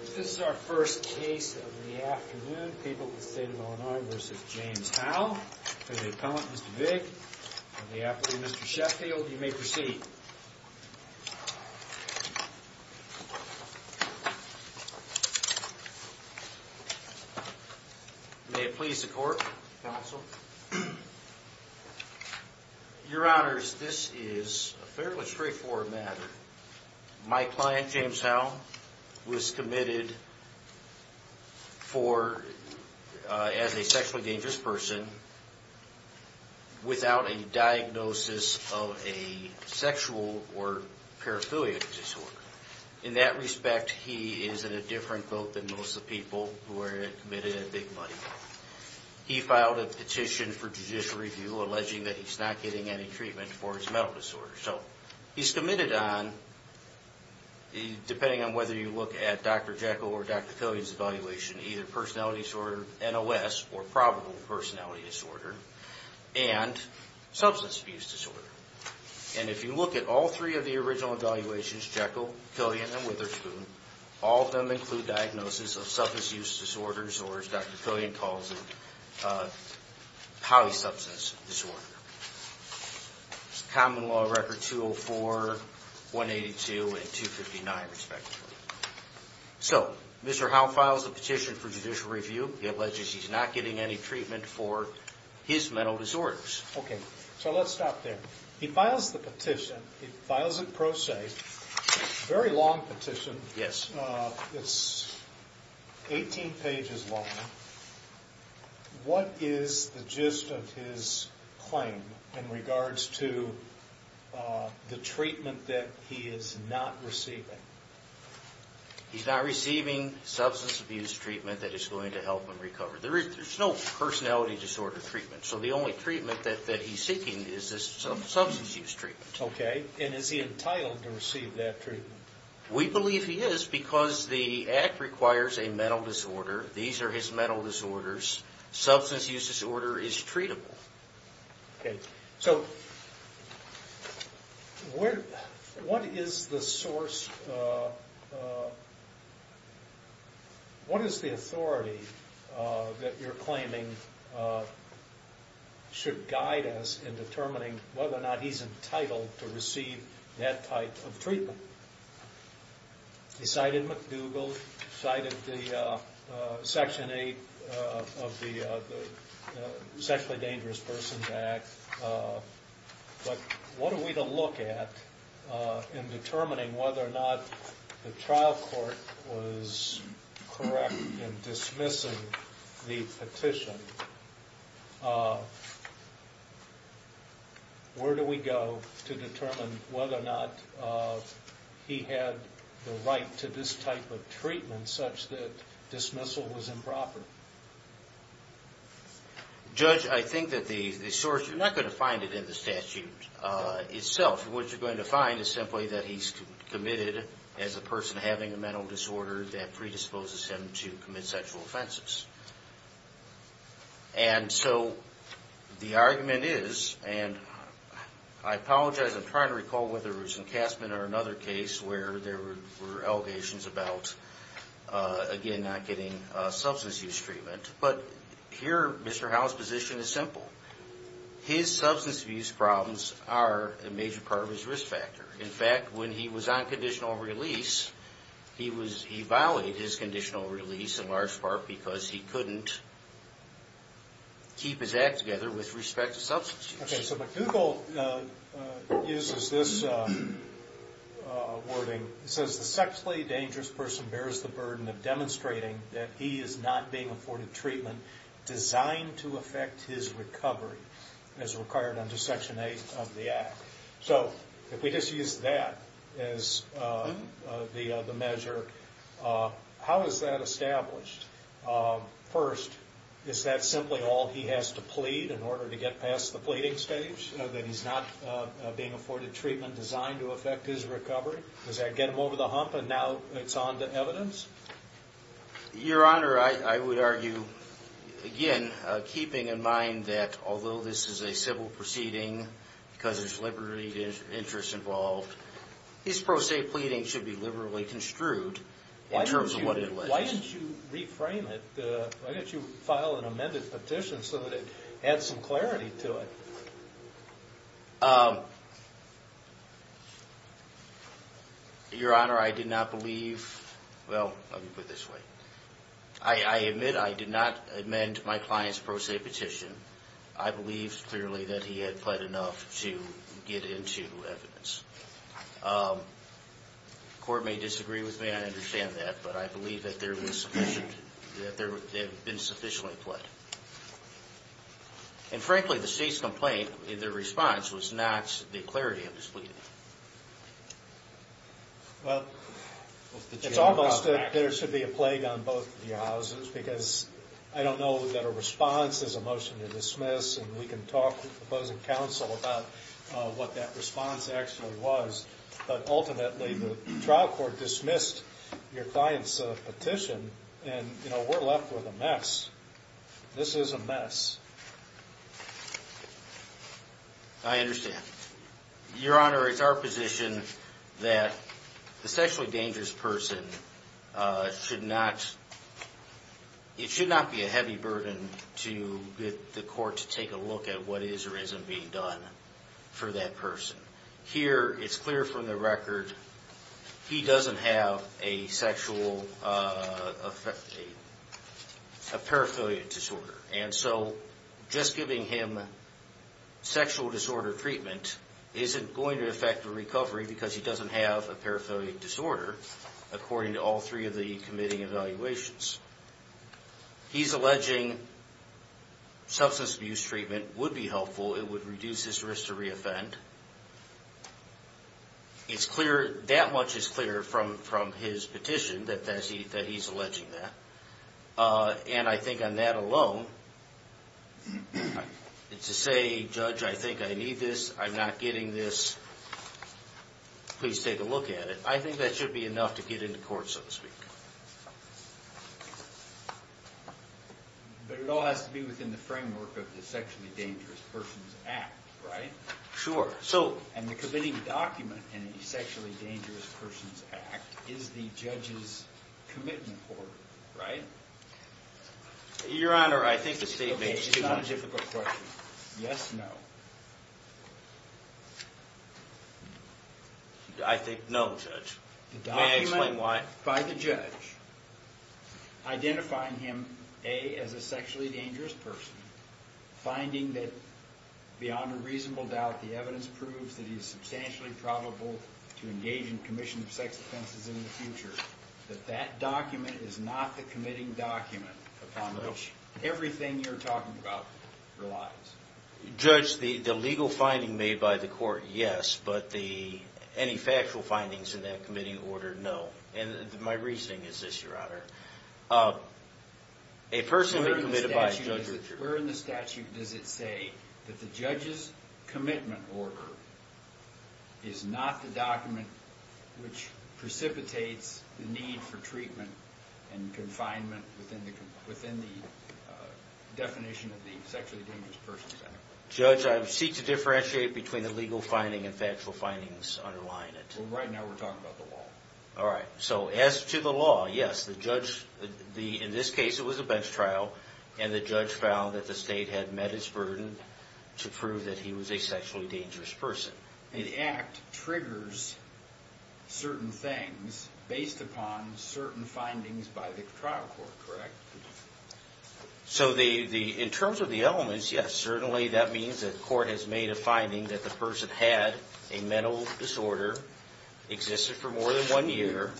This is our first case of the afternoon. People of the State of Illinois v. James Howe. We have the Appellant, Mr. Vig, and the Appellant, Mr. Sheffield. You may proceed. May it please the Court, Counsel. Your Honors, this is a fairly straightforward matter. My client, James Howe, was committed as a sexually dangerous person without a diagnosis of a sexual or paraphilia disorder. In that respect, he is in a different boat than most of the people who are committed in big money. He filed a petition for judicial review alleging that he's not getting any treatment for his mental disorder. So, he's committed on, depending on whether you look at Dr. Jekyll or Dr. Killian's evaluation, either personality disorder, NOS, or probable personality disorder, and substance abuse disorder. And if you look at all three of the original evaluations, Jekyll, Killian, and Witherspoon, all of them include diagnosis of substance use disorders, or as Dr. Killian calls it, polysubstance disorder. Common law record 204, 182, and 259, respectively. So, Mr. Howe files a petition for judicial review. He alleges he's not getting any treatment for his mental disorders. Okay, so let's stop there. He files the petition. He files it pro se. It's a very long petition. Yes. It's 18 pages long. What is the gist of his claim in regards to the treatment that he is not receiving? He's not receiving substance abuse treatment that is going to help him recover. There's no personality disorder treatment, so the only treatment that he's seeking is this substance use treatment. Okay, and is he entitled to receive that treatment? We believe he is because the act requires a mental disorder. These are his mental disorders. Substance use disorder is treatable. Okay, so what is the source? What is the authority that you're claiming should guide us in determining whether or not he's entitled to receive that type of treatment? He cited McDougall. He cited Section 8 of the Sexually Dangerous Persons Act. But what are we to look at in determining whether or not the trial court was correct in dismissing the petition? Where do we go to determine whether or not he had the right to this type of treatment such that dismissal was improper? Judge, I think that the source, you're not going to find it in the statute itself. What you're going to find is simply that he's committed as a person having a mental disorder that predisposes him to commit sexual offenses. And so the argument is, and I apologize, I'm trying to recall whether it was in Kastman or another case where there were allegations about, again, not getting substance use treatment. But here, Mr. Howell's position is simple. His substance abuse problems are a major part of his risk factor. In fact, when he was on conditional release, he violated his conditional release in large part because he couldn't keep his act together with respect to substance use. Okay, so McDougall uses this wording. He says, The sexually dangerous person bears the burden of demonstrating that he is not being afforded treatment designed to affect his recovery, as required under Section 8 of the Act. So if we just use that as the measure, how is that established? First, is that simply all he has to plead in order to get past the pleading stage? That he's not being afforded treatment designed to affect his recovery? Does that get him over the hump and now it's on to evidence? Your Honor, I would argue, again, keeping in mind that although this is a civil proceeding, because there's liberty of interest involved, his pro se pleading should be liberally construed in terms of what it was. Why don't you reframe it? Why don't you file an amended petition so that it adds some clarity to it? Your Honor, I did not believe, well, let me put it this way. I admit I did not amend my client's pro se petition. I believe clearly that he had pled enough to get into evidence. The court may disagree with me, I understand that, but I believe that there was sufficient, that there had been sufficiently pled. And frankly, the state's complaint, their response, was not the clarity of his pleading. Well, it's almost that there should be a plague on both of your houses because I don't know that a response is a motion to dismiss and we can talk with opposing counsel about what that response actually was. But ultimately, the trial court dismissed your client's petition and, you know, we're left with a mess. This is a mess. I understand. Your Honor, it's our position that the sexually dangerous person should not, it should not be a heavy burden to get the court to take a look at what is or isn't being done for that person. Here, it's clear from the record, he doesn't have a sexual, a paraphernalia disorder. And so, just giving him sexual disorder treatment isn't going to affect the recovery because he doesn't have a paraphernalia disorder, according to all three of the committing evaluations. He's alleging substance abuse treatment would be helpful, it would reduce his risk to re-offend. It's clear, that much is clear from his petition that he's alleging that. And I think on that alone, to say, Judge, I think I need this, I'm not getting this, please take a look at it. I think that should be enough to get into court, so to speak. But it all has to be within the framework of the Sexually Dangerous Persons Act, right? Sure. And the committing document in the Sexually Dangerous Persons Act is the judge's commitment order, right? Your Honor, I think the statement... Okay, it's not a difficult question. Yes, no. I think, no, Judge. May I explain why? The document by the judge, identifying him, A, as a sexually dangerous person, B, finding that, beyond a reasonable doubt, the evidence proves that he's substantially probable to engage in commission of sex offenses in the future, that that document is not the committing document upon which everything you're talking about relies. Judge, the legal finding made by the court, yes, but any factual findings in that committing order, no. And my reasoning is this, Your Honor. Where in the statute does it say that the judge's commitment order is not the document which precipitates the need for treatment and confinement within the definition of the Sexually Dangerous Persons Act? Judge, I seek to differentiate between the legal finding and factual findings underlying it. Well, right now we're talking about the law. All right. So, as to the law, yes, the judge... In this case, it was a bench trial, and the judge found that the state had met its burden to prove that he was a sexually dangerous person. The Act triggers certain things based upon certain findings by the trial court, correct? So, in terms of the elements, yes, certainly that means that the court has made a finding that the person had a mental disorder, existed for more than one year,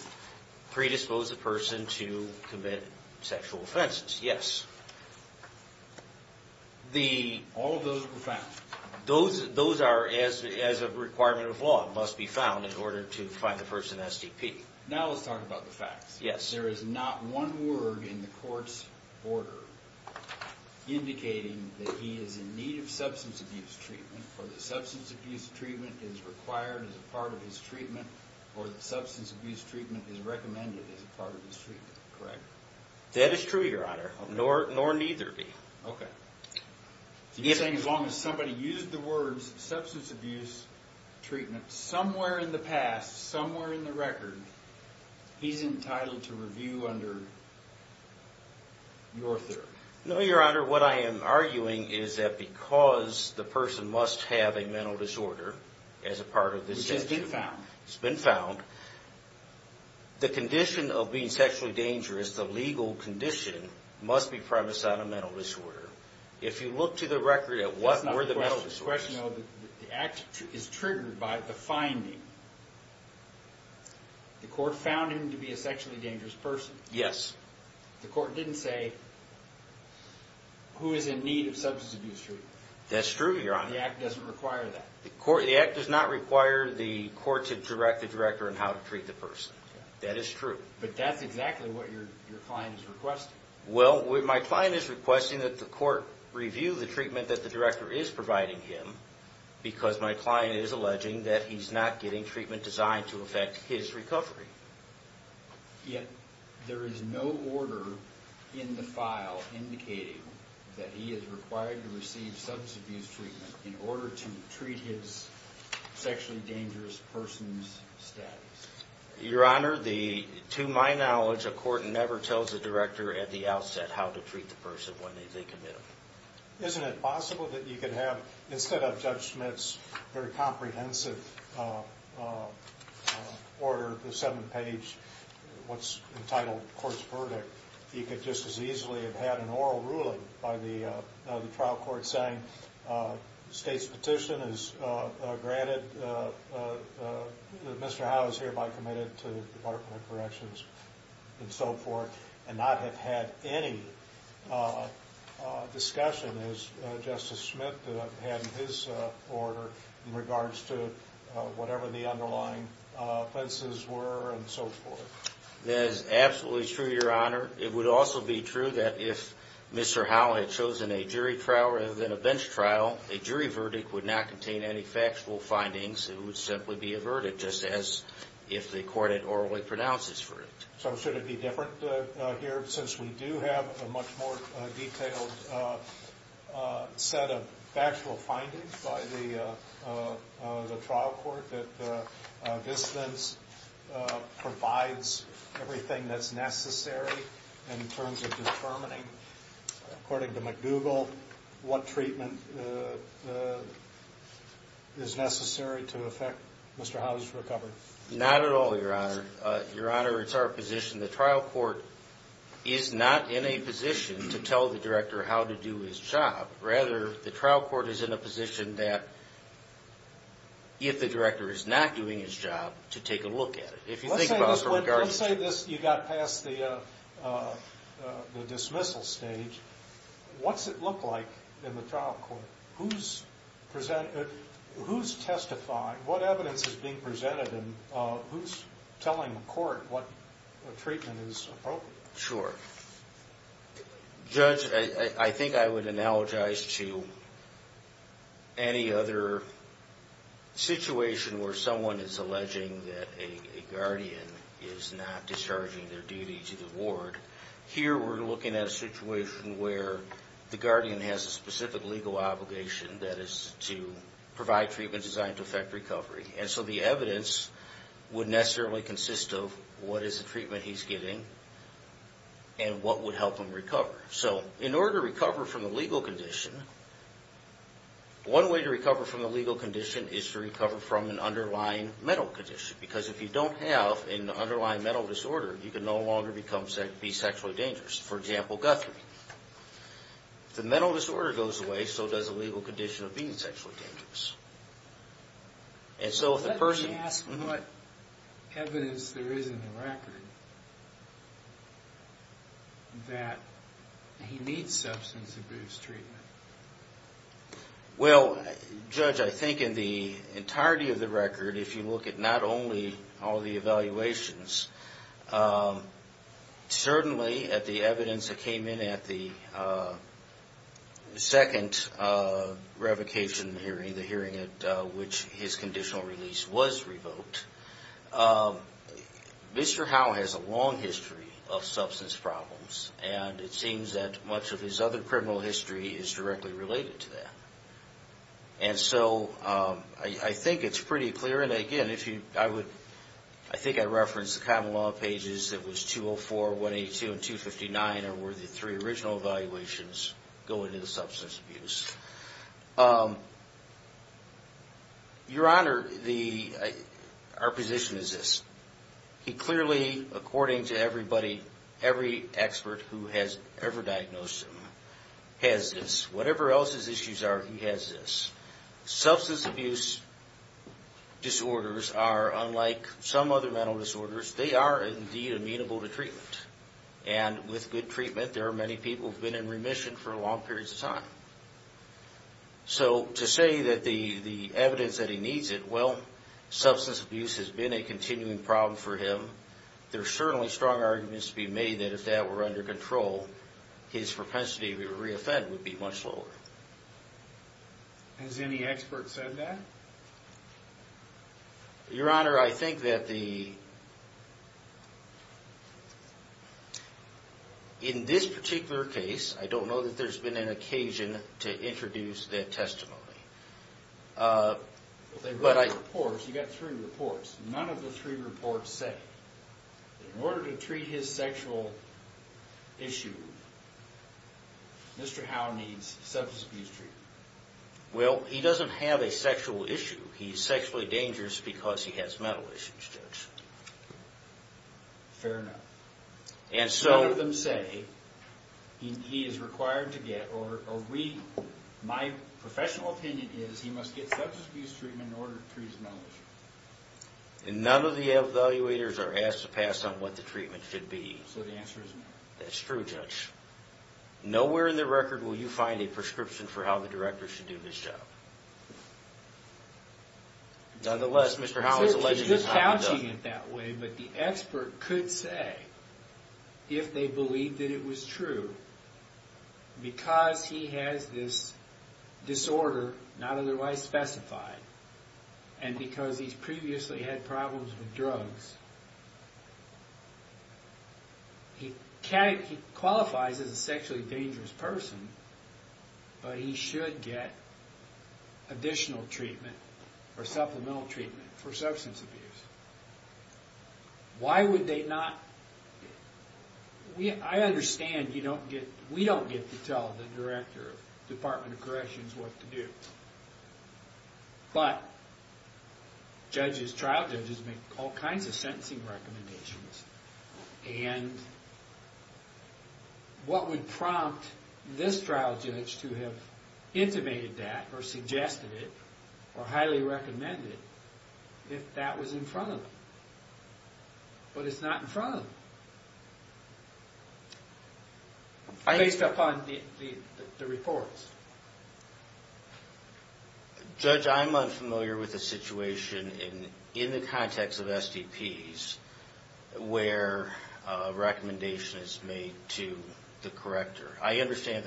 predisposed the person to commit sexual offenses, yes. All of those were found? Those are, as a requirement of law, must be found in order to find the person SDP. Now let's talk about the facts. Yes. There is not one word in the court's order indicating that he is in need of substance abuse treatment, or that substance abuse treatment is required as a part of his treatment, or that substance abuse treatment is recommended as a part of his treatment, correct? That is true, Your Honor, nor neither be. Okay. You're saying as long as somebody used the words substance abuse treatment somewhere in the past, somewhere in the record, he's entitled to review under your theory? No, Your Honor, what I am arguing is that because the person must have a mental disorder as a part of this statute... Which has been found. It's been found. The condition of being sexually dangerous, the legal condition, must be premised on a mental disorder. If you look to the record at what were the mental disorders... That's not the question, though. The act is triggered by the finding. The court found him to be a sexually dangerous person. Yes. The court didn't say who is in need of substance abuse treatment. That's true, Your Honor. The act doesn't require that. The act does not require the court to direct the director on how to treat the person. That is true. But that's exactly what your client is requesting. Well, my client is requesting that the court review the treatment that the director is providing him because my client is alleging that he's not getting treatment designed to affect his recovery. Yet, there is no order in the file indicating that he is required to receive substance abuse treatment in order to treat his sexually dangerous person's status. Your Honor, to my knowledge, a court never tells a director at the outset how to treat the person when they commit them. Isn't it possible that you could have, instead of Judge Schmitt's very comprehensive order, the seven-page what's entitled court's verdict, you could just as easily have had an oral ruling by the trial court saying the state's petition is granted, that Mr. Howe is hereby committed to the Department of Corrections, and so forth, and not have had any discussion, as Justice Schmitt had in his order, in regards to whatever the underlying offenses were and so forth? That is absolutely true, Your Honor. It would also be true that if Mr. Howe had chosen a jury trial rather than a bench trial, a jury verdict would not contain any factual findings. It would simply be a verdict, just as if the court had orally pronounced his verdict. So should it be different here, since we do have a much more detailed set of factual findings by the trial court, that this instance provides everything that's necessary in terms of determining, according to McDougall, what treatment is necessary to affect Mr. Howe's recovery? Not at all, Your Honor. Your Honor, it's our position the trial court is not in a position to tell the director how to do his job. Rather, the trial court is in a position that, if the director is not doing his job, to take a look at it. Let's say this, you got past the dismissal stage, what's it look like in the trial court? Who's testifying, what evidence is being presented, and who's telling the court what treatment is appropriate? Sure. Judge, I think I would analogize to any other situation where someone is alleging that a guardian is not discharging their duty to the ward. Here, we're looking at a situation where the guardian has a specific legal obligation, that is, to provide treatment designed to affect recovery. And so the evidence would necessarily consist of what is the treatment he's getting and what would help him recover. So, in order to recover from a legal condition, one way to recover from a legal condition is to recover from an underlying mental condition. Because if you don't have an underlying mental disorder, you can no longer be sexually dangerous. For example, Guthrie. If the mental disorder goes away, so does the legal condition of being sexually dangerous. Let me ask what evidence there is in the record that he needs substance abuse treatment. Well, Judge, I think in the entirety of the record, if you look at not only all the evaluations, certainly at the evidence that came in at the second revocation hearing, the hearing at which his conditional release was revoked, Mr. Howe has a long history of substance problems, and it seems that much of his other criminal history is directly related to that. And so I think it's pretty clear, and again, I think I referenced the common law pages that was 204, 182, and 259, where the three original evaluations go into the substance abuse. Your Honor, our position is this. He clearly, according to everybody, every expert who has ever diagnosed him, has this. Whatever else his issues are, he has this. Substance abuse disorders are, unlike some other mental disorders, they are indeed amenable to treatment. And with good treatment, there are many people who have been in remission for long periods of time. So to say that the evidence that he needs it, well, substance abuse has been a continuing problem for him. There are certainly strong arguments to be made that if that were under control, his propensity to reoffend would be much lower. Has any expert said that? Your Honor, I think that the... In this particular case, I don't know that there's been an occasion to introduce that testimony. But I... You've got three reports. None of the three reports say that in order to treat his sexual issue, Mr. Howe needs substance abuse treatment. Well, he doesn't have a sexual issue. He's sexually dangerous because he has mental issues, Judge. Fair enough. And so... None of them say he is required to get, or we, my professional opinion is he must get substance abuse treatment in order to treat his mental issues. And none of the evaluators are asked to pass on what the treatment should be. So the answer is no. That's true, Judge. Nowhere in the record will you find a prescription for how the director should do his job. Nonetheless, Mr. Howe is alleged to have... He's just couching it that way, but the expert could say, if they believe that it was true, because he has this disorder, not otherwise specified, and because he's previously had problems with drugs, he qualifies as a sexually dangerous person, but he should get additional treatment or supplemental treatment for substance abuse. Why would they not... I understand you don't get... We don't get to tell the director of the Department of Corrections what to do. But judges, trial judges, make all kinds of sentencing recommendations. And what would prompt this trial judge to have intimated that, or suggested it, or highly recommended it, if that was in front of them? But it's not in front of them. Based upon the reports. Judge, I'm unfamiliar with a situation in the context of STPs where a recommendation is made to the corrector. I understand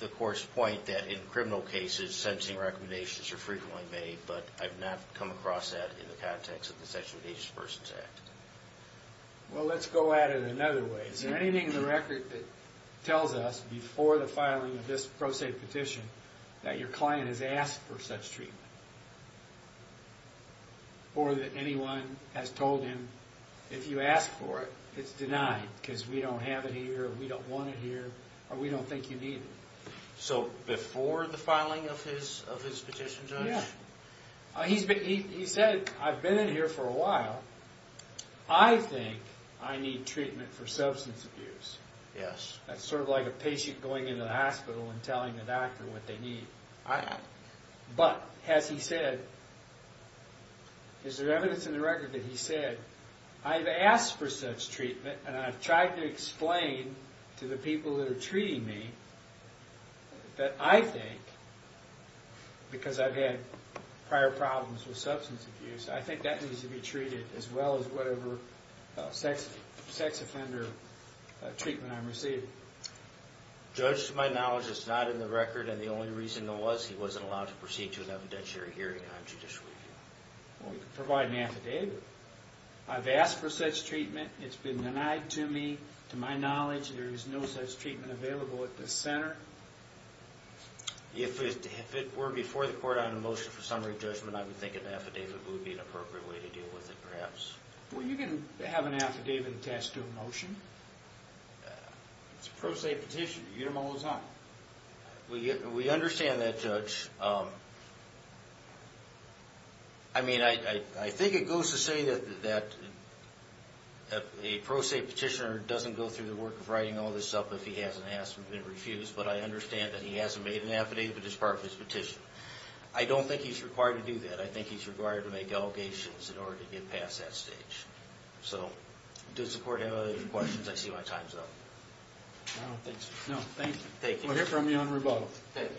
the court's point that in criminal cases, sentencing recommendations are frequently made, but I've not come across that in the context of the Sexually Dangerous Persons Act. Well, let's go at it another way. Is there anything in the record that tells us, before the filing of this pro se petition, that your client has asked for such treatment? Or that anyone has told him, if you ask for it, it's denied, because we don't have it here, we don't want it here, or we don't think you need it. So, before the filing of his petition, Judge? He said, I've been in here for a while. I think I need treatment for substance abuse. That's sort of like a patient going into the hospital and telling the doctor what they need. But, has he said, is there evidence in the record that he said, I've asked for such treatment, and I've tried to explain to the people that are treating me, that I think, because I've had prior problems with substance abuse, I think that needs to be treated as well as whatever sex offender treatment I'm receiving. Judge, to my knowledge, it's not in the record, and the only reason it was, he wasn't allowed to proceed to an evidentiary hearing on judicial review. Well, you can provide an affidavit. I've asked for such treatment, it's been denied to me. To my knowledge, there is no such treatment available at this center. If it were before the court on a motion for summary judgment, I would think an affidavit would be an appropriate way to deal with it, perhaps. Well, you can have an affidavit attached to a motion. It's a pro se petition, you don't owe us nothing. We understand that, Judge. I mean, I think it goes to say that a pro se petitioner doesn't go through the work of writing all this up if he hasn't been refused, but I understand that he hasn't made an affidavit as part of his petition. I don't think he's required to do that. I think he's required to make allegations in order to get past that stage. So, does the court have any other questions? I see my time's up. No, thank you. We'll hear from you on rebuttal. Thank you. Thank you.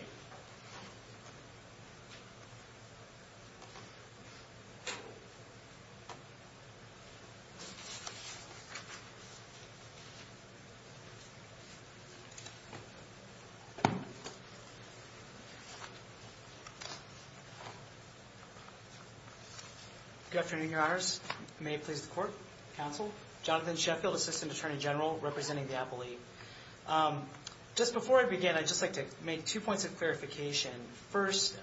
Good afternoon, Your Honors. May it please the court, counsel. Jonathan Sheffield, Assistant Attorney General, representing the appellee. Just before I begin, I'd just like to make two points of clarification. First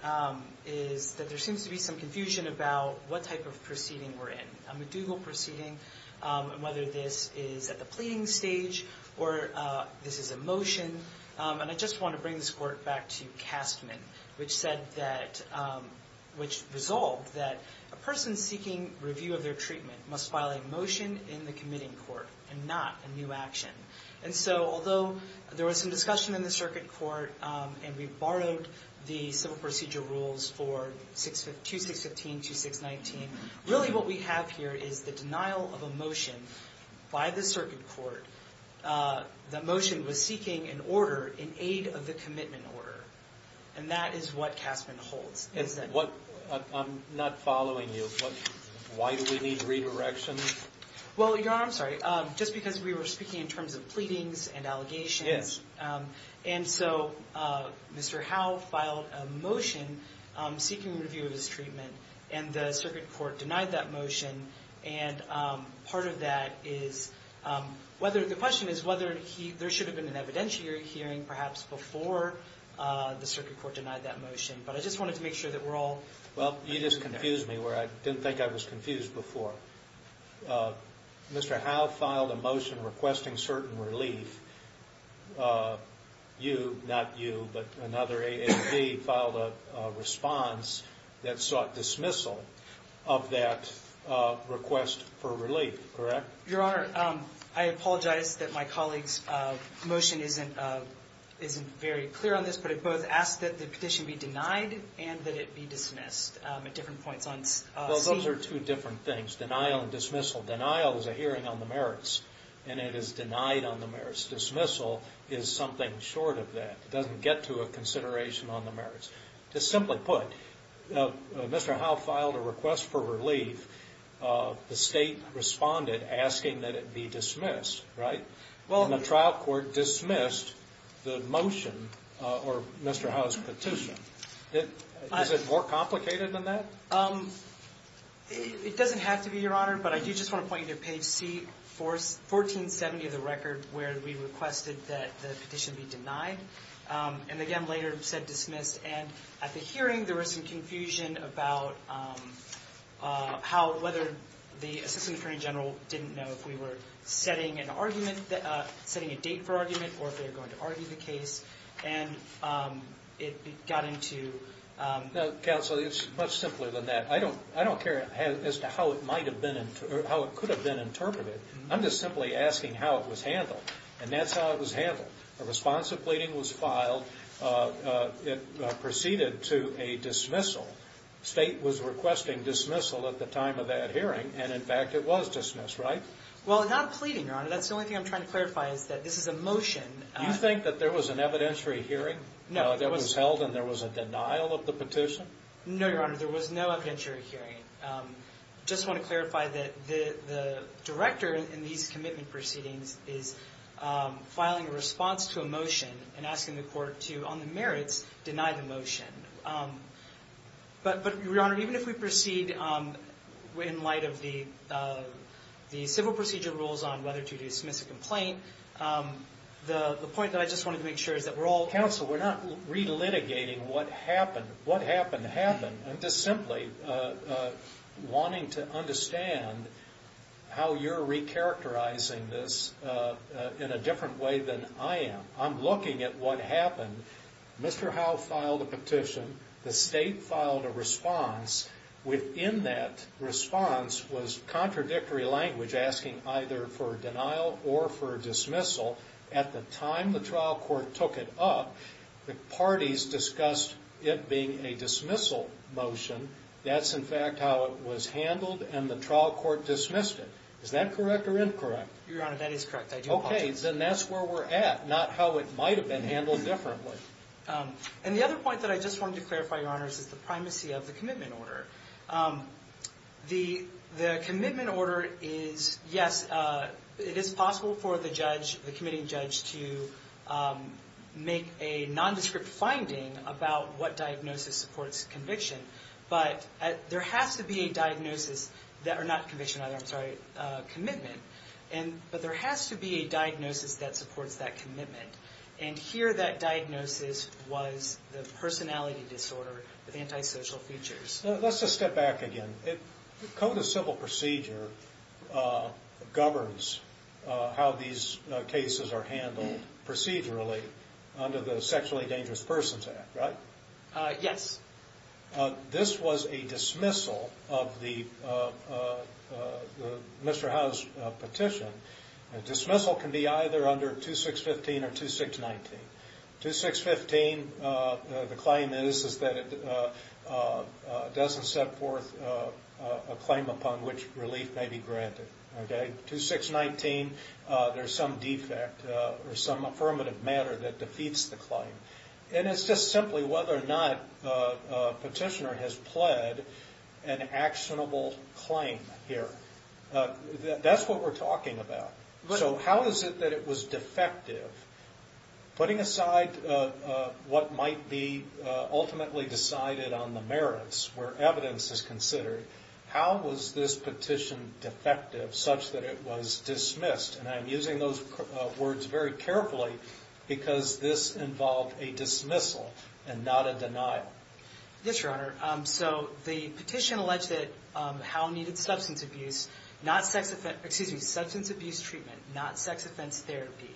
is that there seems to be some confusion about what type of proceeding we're in. A medieval proceeding, whether this is at the pleading stage or this is a motion. And I just want to bring this court back to Castman, which said that, which resolved that a person seeking review of their treatment must file a motion in the committing court and not a new action. And so, although there was some discussion in the circuit court and we borrowed the civil procedure rules for 2615, 2619, really what we have here is the denial of a motion by the circuit court. The motion was seeking an order in aid of the commitment order. And that is what Castman holds. I'm not following you. Why do we need redirection? Well, Your Honor, I'm sorry. Just because we were speaking in terms of pleadings and allegations. Yes. And so, Mr. Howe filed a motion seeking review of his treatment and the circuit court denied that motion. And part of that is whether, the question is whether there should have been an evidentiary hearing perhaps before the circuit court denied that motion. But I just wanted to make sure that we're all. Well, you just confused me where I didn't think I was confused before. Mr. Howe filed a motion requesting certain relief. You, not you, but another ASB filed a response that sought dismissal of that request for relief, correct? Your Honor, I apologize that my colleague's motion isn't very clear on this, but it both asks that the petition be denied and that it be dismissed at different points. Well, those are two different things, denial and dismissal. Denial is a hearing on the merits, and it is denied on the merits. Dismissal is something short of that. It doesn't get to a consideration on the merits. To simply put, Mr. Howe filed a request for relief. The state responded asking that it be dismissed, right? And the trial court dismissed the motion or Mr. Howe's petition. Is it more complicated than that? It doesn't have to be, Your Honor, but I do just want to point you to page C, 1470 of the record, where we requested that the petition be denied. And again, later said dismissed. And at the hearing, there was some confusion about how, whether the assistant attorney general didn't know if we were setting an argument, setting a date for argument, or if they were going to argue the case. And it got into- Counsel, it's much simpler than that. I don't care as to how it might have been, or how it could have been interpreted. I'm just simply asking how it was handled. And that's how it was handled. A responsive pleading was filed. It proceeded to a dismissal. State was requesting dismissal at the time of that hearing. And, in fact, it was dismissed, right? Well, not pleading, Your Honor. That's the only thing I'm trying to clarify is that this is a motion. You think that there was an evidentiary hearing that was held and there was a denial of the petition? No, Your Honor. There was no evidentiary hearing. I just want to clarify that the director in these commitment proceedings is filing a response to a motion and asking the court to, on the merits, deny the motion. But, Your Honor, even if we proceed in light of the civil procedure rules on whether to dismiss a complaint, the point that I just wanted to make sure is that we're all- Counsel, we're not relitigating what happened. What happened happened. I'm just simply wanting to understand how you're recharacterizing this in a different way than I am. I'm looking at what happened. Mr. Howe filed a petition. The state filed a response. Within that response was contradictory language asking either for a denial or for a dismissal. At the time the trial court took it up, the parties discussed it being a dismissal motion. That's, in fact, how it was handled, and the trial court dismissed it. Is that correct or incorrect? Your Honor, that is correct. I do apologize. Okay. Then that's where we're at, not how it might have been handled differently. And the other point that I just wanted to clarify, Your Honors, is the primacy of the commitment order. The commitment order is, yes, it is possible for the judge, the committing judge, to make a nondescript finding about what diagnosis supports conviction. But there has to be a diagnosis that, or not conviction, I'm sorry, commitment. But there has to be a diagnosis that supports that commitment. And here that diagnosis was the personality disorder with antisocial features. Let's just step back again. Code of Civil Procedure governs how these cases are handled procedurally under the Sexually Dangerous Persons Act, right? Yes. This was a dismissal of the Mr. Howe's petition. A dismissal can be either under 2615 or 2619. 2615, the claim is, is that it doesn't set forth a claim upon which relief may be granted. Okay? 2619, there's some defect or some affirmative matter that defeats the claim. And it's just simply whether or not a petitioner has pled an actionable claim here. That's what we're talking about. So how is it that it was defective? Putting aside what might be ultimately decided on the merits where evidence is considered, how was this petition defective such that it was dismissed? And I'm using those words very carefully because this involved a dismissal and not a denial. Yes, Your Honor. So the petition alleged that Howe needed substance abuse treatment, not sex offense therapy.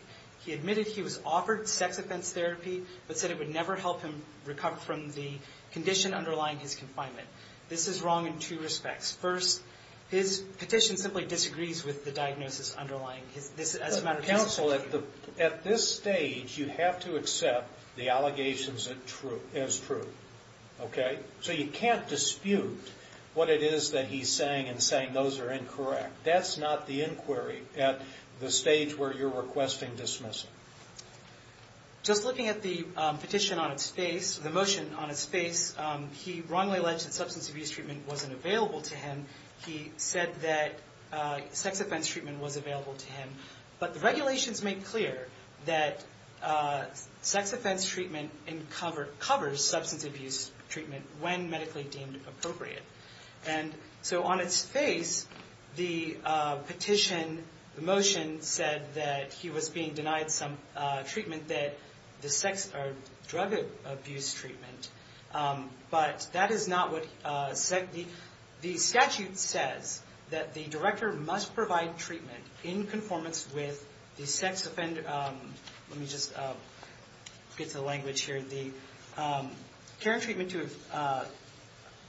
He admitted he was offered sex offense therapy, but said it would never help him recover from the condition underlying his confinement. This is wrong in two respects. First, his petition simply disagrees with the diagnosis underlying this. Counsel, at this stage, you have to accept the allegations as true. Okay? So you can't dispute what it is that he's saying and saying those are incorrect. That's not the inquiry at the stage where you're requesting dismissal. Just looking at the petition on its face, the motion on its face, he wrongly alleged that substance abuse treatment wasn't available to him. He said that sex offense treatment was available to him. But the regulations make clear that sex offense treatment covers substance abuse treatment when medically deemed appropriate. And so on its face, the petition, the motion said that he was being denied some treatment, that the sex or drug abuse treatment. But that is not what the statute says, that the director must provide treatment in conformance with the sex offender. Let me just get to the language here. The care and treatment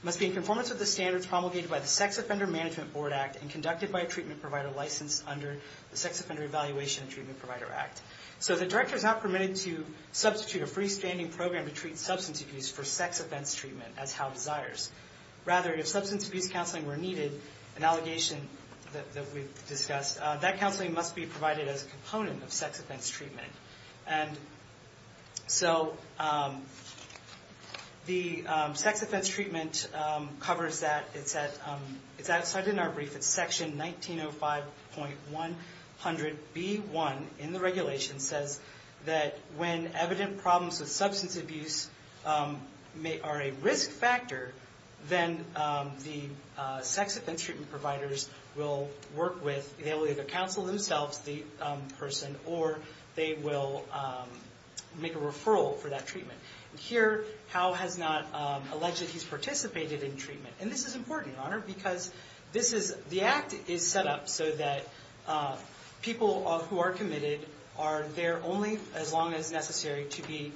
must be in conformance with the standards promulgated by the Sex Offender Management Board Act and conducted by a treatment provider licensed under the Sex Offender Evaluation and Treatment Provider Act. So the director is not permitted to substitute a freestanding program to treat substance abuse for sex offense treatment as how it desires. Rather, if substance abuse counseling were needed, an allegation that we've discussed, that counseling must be provided as a component of sex offense treatment. And so the sex offense treatment covers that. It's outside in our brief. It's section 1905.100B1 in the regulation says that when evident problems with substance abuse are a risk factor, then the sex offense treatment providers will work with, they will either counsel themselves the person or they will make a referral for that treatment. And here, Howe has not alleged that he's participated in treatment. And this is important, Your Honor, because the act is set up so that people who are committed are there only as long as necessary to be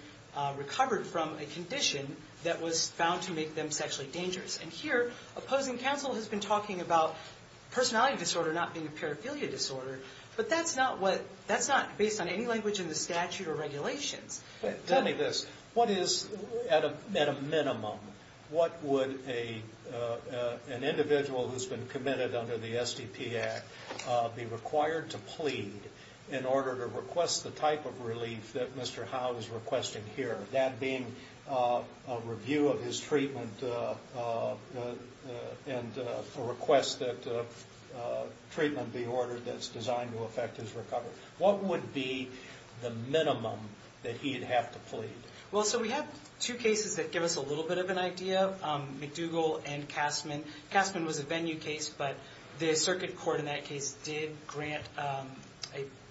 recovered from a condition that was found to make them sexually dangerous. And here, opposing counsel has been talking about personality disorder not being a paraphilia disorder. But that's not what, that's not based on any language in the statute or regulations. Tell me this. What is, at a minimum, what would an individual who's been committed under the SDP Act be required to plead in order to request the type of relief that Mr. Howe is requesting here? That being a review of his treatment and a request that treatment be ordered that's designed to affect his recovery. What would be the minimum that he'd have to plead? Well, so we have two cases that give us a little bit of an idea, McDougall and Castman. Castman was a venue case, but the circuit court in that case did grant a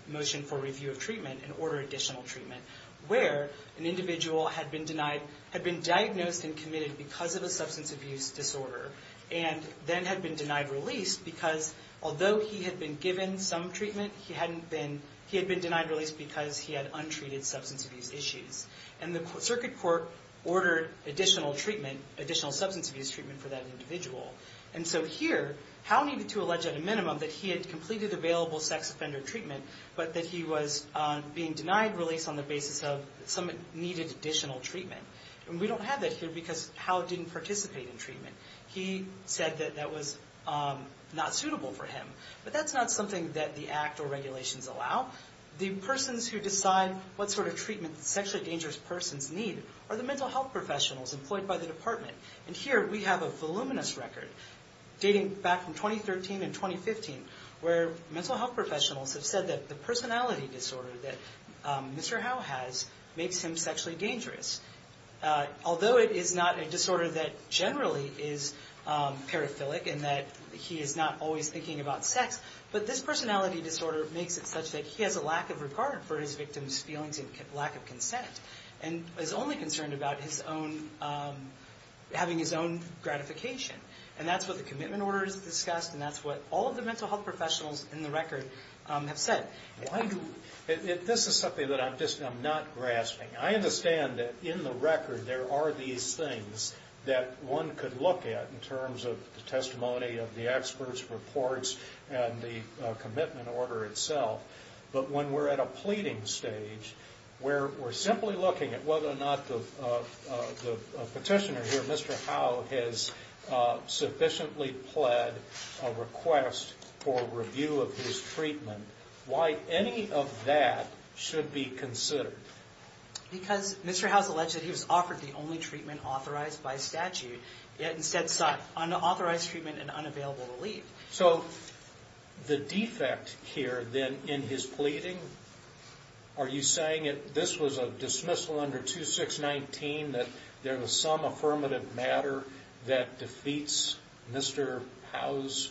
motion for review of treatment and order additional treatment where an individual had been denied, had been diagnosed and committed because of a substance abuse disorder and then had been denied release because although he had been given some treatment, he hadn't been, he had been denied release because he had untreated substance abuse issues. And the circuit court ordered additional treatment, additional substance abuse treatment for that individual. And so here, Howe needed to allege at a minimum that he had completed available sex offender treatment, but that he was being denied release on the basis of some needed additional treatment. And we don't have that here because Howe didn't participate in treatment. He said that that was not suitable for him. But that's not something that the Act or regulations allow. The persons who decide what sort of treatment sexually dangerous persons need are the mental health professionals employed by the department. And here we have a voluminous record dating back from 2013 and 2015 where mental health professionals have said that the personality disorder that Mr. Howe has makes him sexually dangerous. Although it is not a disorder that generally is paraphilic in that he is not always thinking about sex, but this personality disorder makes it such that he has a lack of regard for his victim's feelings and lack of consent and is only concerned about his own, having his own gratification. And that's what the commitment order has discussed, and that's what all of the mental health professionals in the record have said. This is something that I'm not grasping. I understand that in the record there are these things that one could look at in terms of the testimony of the experts, reports, and the commitment order itself. But when we're at a pleading stage, where we're simply looking at whether or not the petitioner here, Mr. Howe, has sufficiently pled a request for review of his treatment, why any of that should be considered? Because Mr. Howe has alleged that he was offered the only treatment authorized by statute, yet instead sought unauthorized treatment and unavailable to leave. So the defect here, then, in his pleading, are you saying that this was a dismissal under 2619, that there was some affirmative matter that defeats Mr. Howe's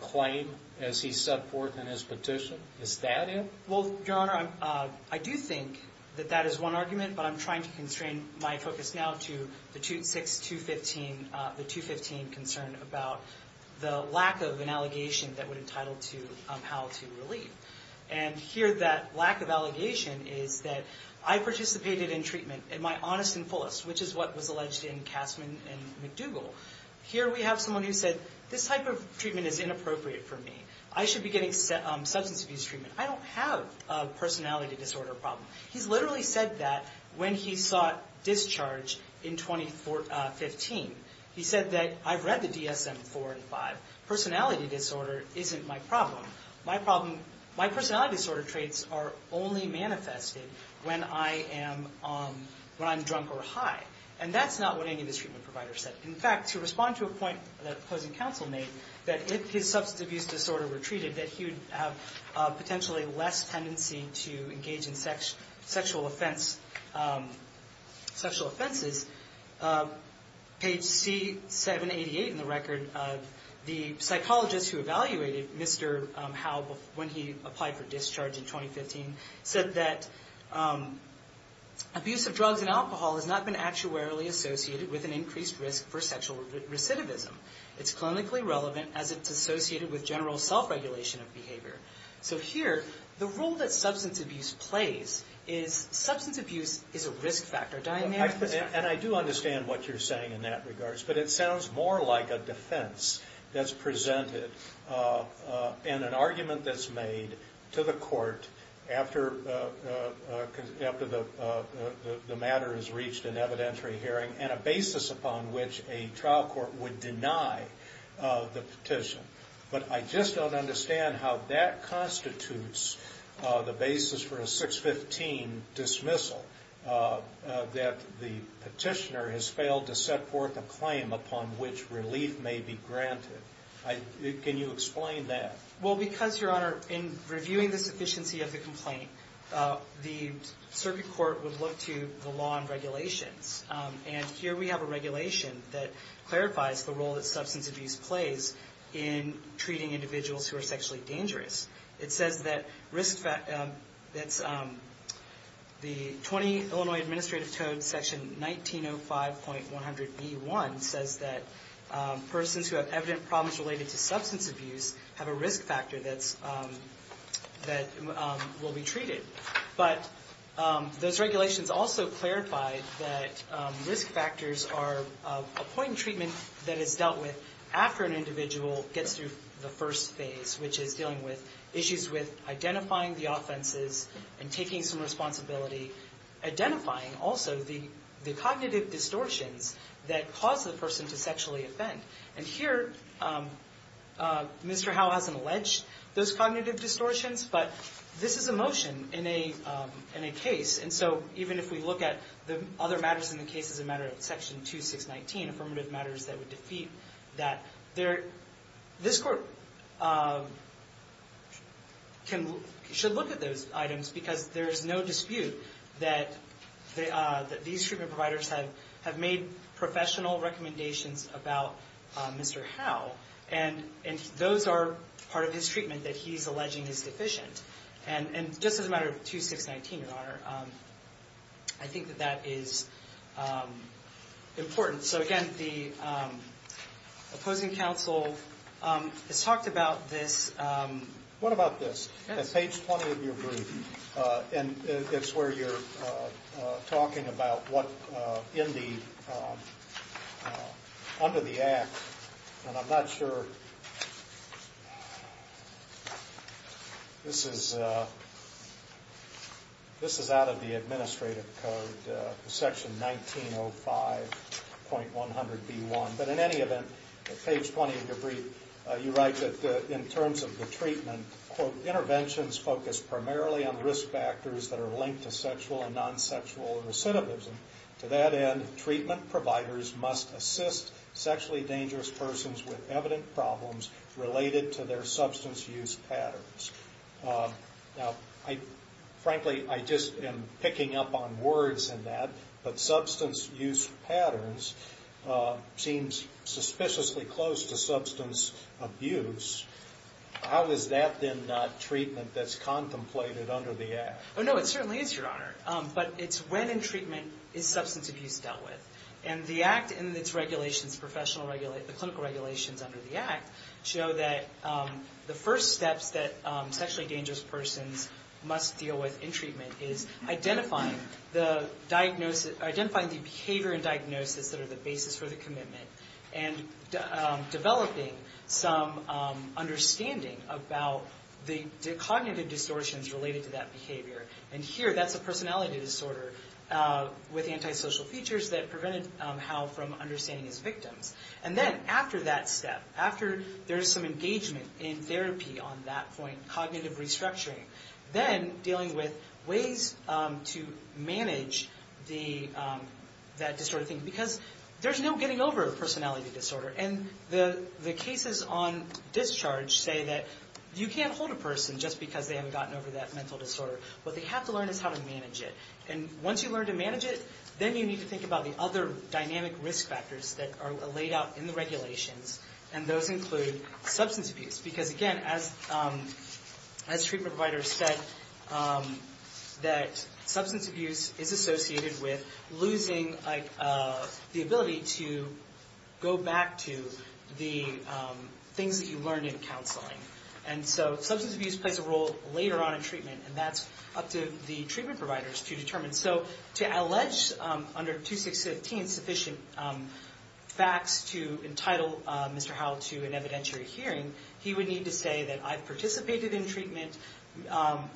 claim, as he set forth in his petition? Is that it? Well, Your Honor, I do think that that is one argument, but I'm trying to constrain my focus now to the 215 concern about the lack of an allegation that would entitle to Howe to leave. And here that lack of allegation is that I participated in treatment in my honest and fullest, which is what was alleged in Kastman and McDougall. Here we have someone who said, this type of treatment is inappropriate for me. I should be getting substance abuse treatment. I don't have a personality disorder problem. He's literally said that when he sought discharge in 2015. He said that, I've read the DSM-4 and 5. Personality disorder isn't my problem. My personality disorder traits are only manifested when I'm drunk or high. And that's not what any of the treatment providers said. In fact, to respond to a point that opposing counsel made, that if his substance abuse disorder were treated, that he would have potentially less tendency to engage in sexual offenses, page C788 in the record of the psychologist who evaluated Mr. Howe when he applied for discharge in 2015 said that, abuse of drugs and alcohol has not been actuarially associated with an increased risk for sexual recidivism. It's clinically relevant as it's associated with general self-regulation of behavior. So here, the role that substance abuse plays is, substance abuse is a risk factor. And I do understand what you're saying in that regards, but it sounds more like a defense that's presented in an argument that's made to the court after the matter has reached an evidentiary hearing and a basis upon which a trial court would deny the petition. But I just don't understand how that constitutes the basis for a 615 dismissal, that the petitioner has failed to set forth a claim upon which relief may be granted. Can you explain that? Well, because, Your Honor, in reviewing the sufficiency of the complaint, the circuit court would look to the law and regulations and here we have a regulation that clarifies the role that substance abuse plays in treating individuals who are sexually dangerous. It says that the 20 Illinois Administrative Code Section 1905.100B1 says that persons who have evident problems related to substance abuse have a risk factor that will be treated. But those regulations also clarify that risk factors are a point in treatment that is dealt with after an individual gets through the first phase, which is dealing with issues with identifying the offenses and taking some responsibility, identifying also the cognitive distortions that cause the person to sexually offend. And here, Mr. Howell hasn't alleged those cognitive distortions, but this is a motion in a case. And so even if we look at the other matters in the case as a matter of Section 2619, affirmative matters that would defeat that, this court should look at those items because there is no dispute that these treatment providers have made professional recommendations about Mr. Howell and those are part of his treatment that he's alleging is deficient. And just as a matter of 2619, Your Honor, I think that that is important. So again, the opposing counsel has talked about this. What about this? Yes. At page 20 of your brief, and it's where you're talking about what under the Act, and I'm not sure this is out of the Administrative Code, Section 1905.100B1, but in any event, at page 20 of your brief, you write that in terms of the treatment, quote, interventions focus primarily on risk factors that are linked to sexual and non-sexual recidivism. To that end, treatment providers must assist sexually dangerous persons with evident problems related to their substance use patterns. Now, frankly, I just am picking up on words in that, but substance use patterns seems suspiciously close to substance abuse. How is that then not treatment that's contemplated under the Act? Oh, no, it certainly is, Your Honor, but it's when in treatment is substance abuse dealt with. And the Act and its regulations, the clinical regulations under the Act, show that the first steps that sexually dangerous persons must deal with in treatment is identifying the behavior and diagnosis that are the basis for the commitment and developing some understanding about the cognitive distortions related to that behavior. And here, that's a personality disorder with antisocial features that prevented Hal from understanding his victims. And then after that step, after there's some engagement in therapy on that point, cognitive restructuring, then dealing with ways to manage that distorted thing, because there's no getting over a personality disorder. And the cases on discharge say that you can't hold a person just because they haven't gotten over that mental disorder. What they have to learn is how to manage it. And once you learn to manage it, then you need to think about the other dynamic risk factors that are laid out in the regulations, and those include substance abuse. Because, again, as treatment providers said, that substance abuse is associated with losing the ability to go back to the things that you learned in counseling. And so substance abuse plays a role later on in treatment, and that's up to the treatment providers to determine. So to allege under 2615 sufficient facts to entitle Mr. Hal to an evidentiary hearing, he would need to say that I've participated in treatment,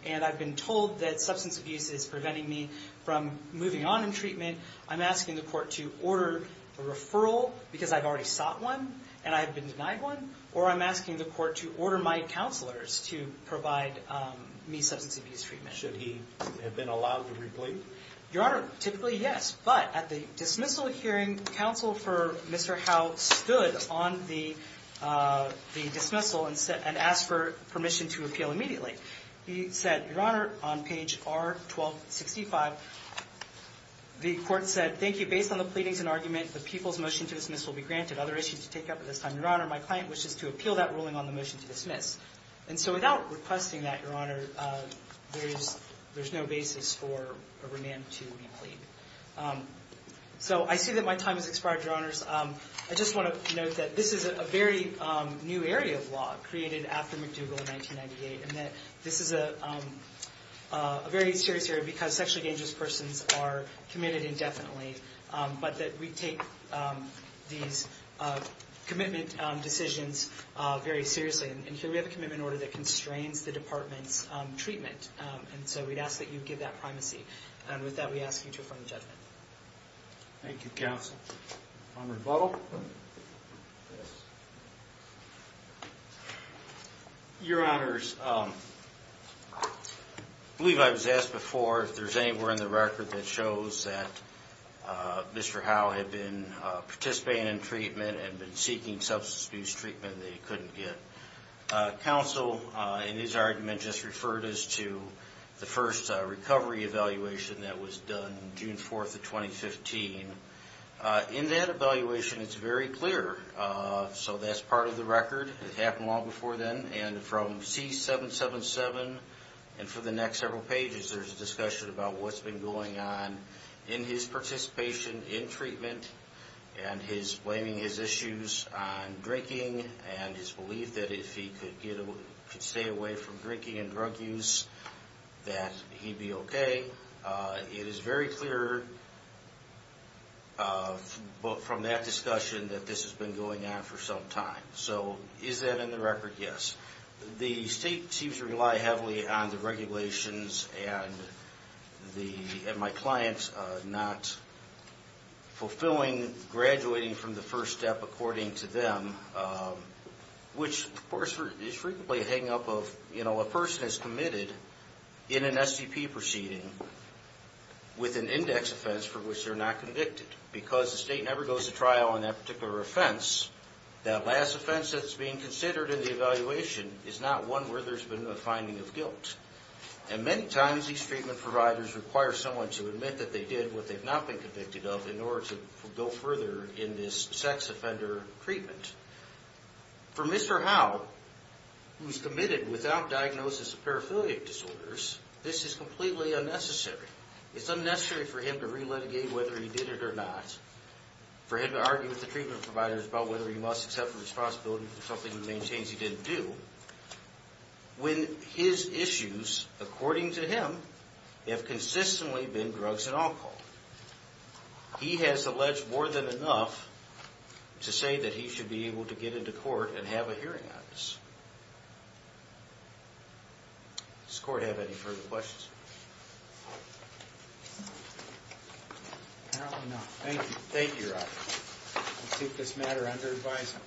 and I've been told that substance abuse is preventing me from moving on in treatment. I'm asking the court to order a referral, because I've already sought one, and I've been denied one. Or I'm asking the court to order my counselors to provide me substance abuse treatment. Should he have been allowed to replete? Your Honor, typically, yes. But at the dismissal hearing, counsel for Mr. Hal stood on the dismissal and asked for permission to appeal immediately. He said, Your Honor, on page R-1265, the court said, Thank you. Based on the pleadings and argument, the people's motion to dismiss will be granted. Other issues to take up at this time, Your Honor, my client wishes to appeal that ruling on the motion to dismiss. And so without requesting that, Your Honor, there's no basis for a remand to be plead. So I see that my time has expired, Your Honors. I just want to note that this is a very new area of law created after McDougall in 1998, and that this is a very serious area because sexually dangerous persons are committed indefinitely, but that we take these commitment decisions very seriously. And here we have a commitment order that constrains the department's treatment. And so we'd ask that you give that primacy. And with that, we ask you to affirm the judgment. Thank you, counsel. Conrad Buttle. Your Honors, I believe I was asked before if there's anywhere in the record that shows that Mr. Hal had been participating in treatment and been seeking substance abuse treatment that he couldn't get. Counsel, in his argument, just referred us to the first recovery evaluation that was done June 4th of 2015. In that evaluation, it's very clear. So that's part of the record. It happened long before then. And from C777 and for the next several pages, there's a discussion about what's been going on in his participation in treatment and his blaming his issues on drinking and his belief that if he could stay away from drinking and drug use, that he'd be okay. It is very clear from that discussion that this has been going on for some time. So is that in the record? Yes. The state seems to rely heavily on the regulations and my clients not fulfilling graduating from the first step according to them, which, of course, is frequently a hang-up of a person is committed in an SCP proceeding with an index offense for which they're not convicted because the state never goes to trial on that particular offense. That last offense that's being considered in the evaluation is not one where there's been a finding of guilt. And many times, these treatment providers require someone to admit that they did what they've not been convicted of in order to go further in this sex offender treatment. For Mr. Howe, who's committed without diagnosis of paraphiliac disorders, this is completely unnecessary. It's unnecessary for him to re-litigate whether he did it or not, for him to argue with the treatment providers about whether he must accept the responsibility for something he maintains he didn't do, when his issues, according to him, have consistently been drugs and alcohol. He has alleged more than enough to say that he should be able to get into court and have a hearing on this. Does the court have any further questions? Apparently not. Thank you. Thank you, Your Honor. I'll keep this matter under advisement.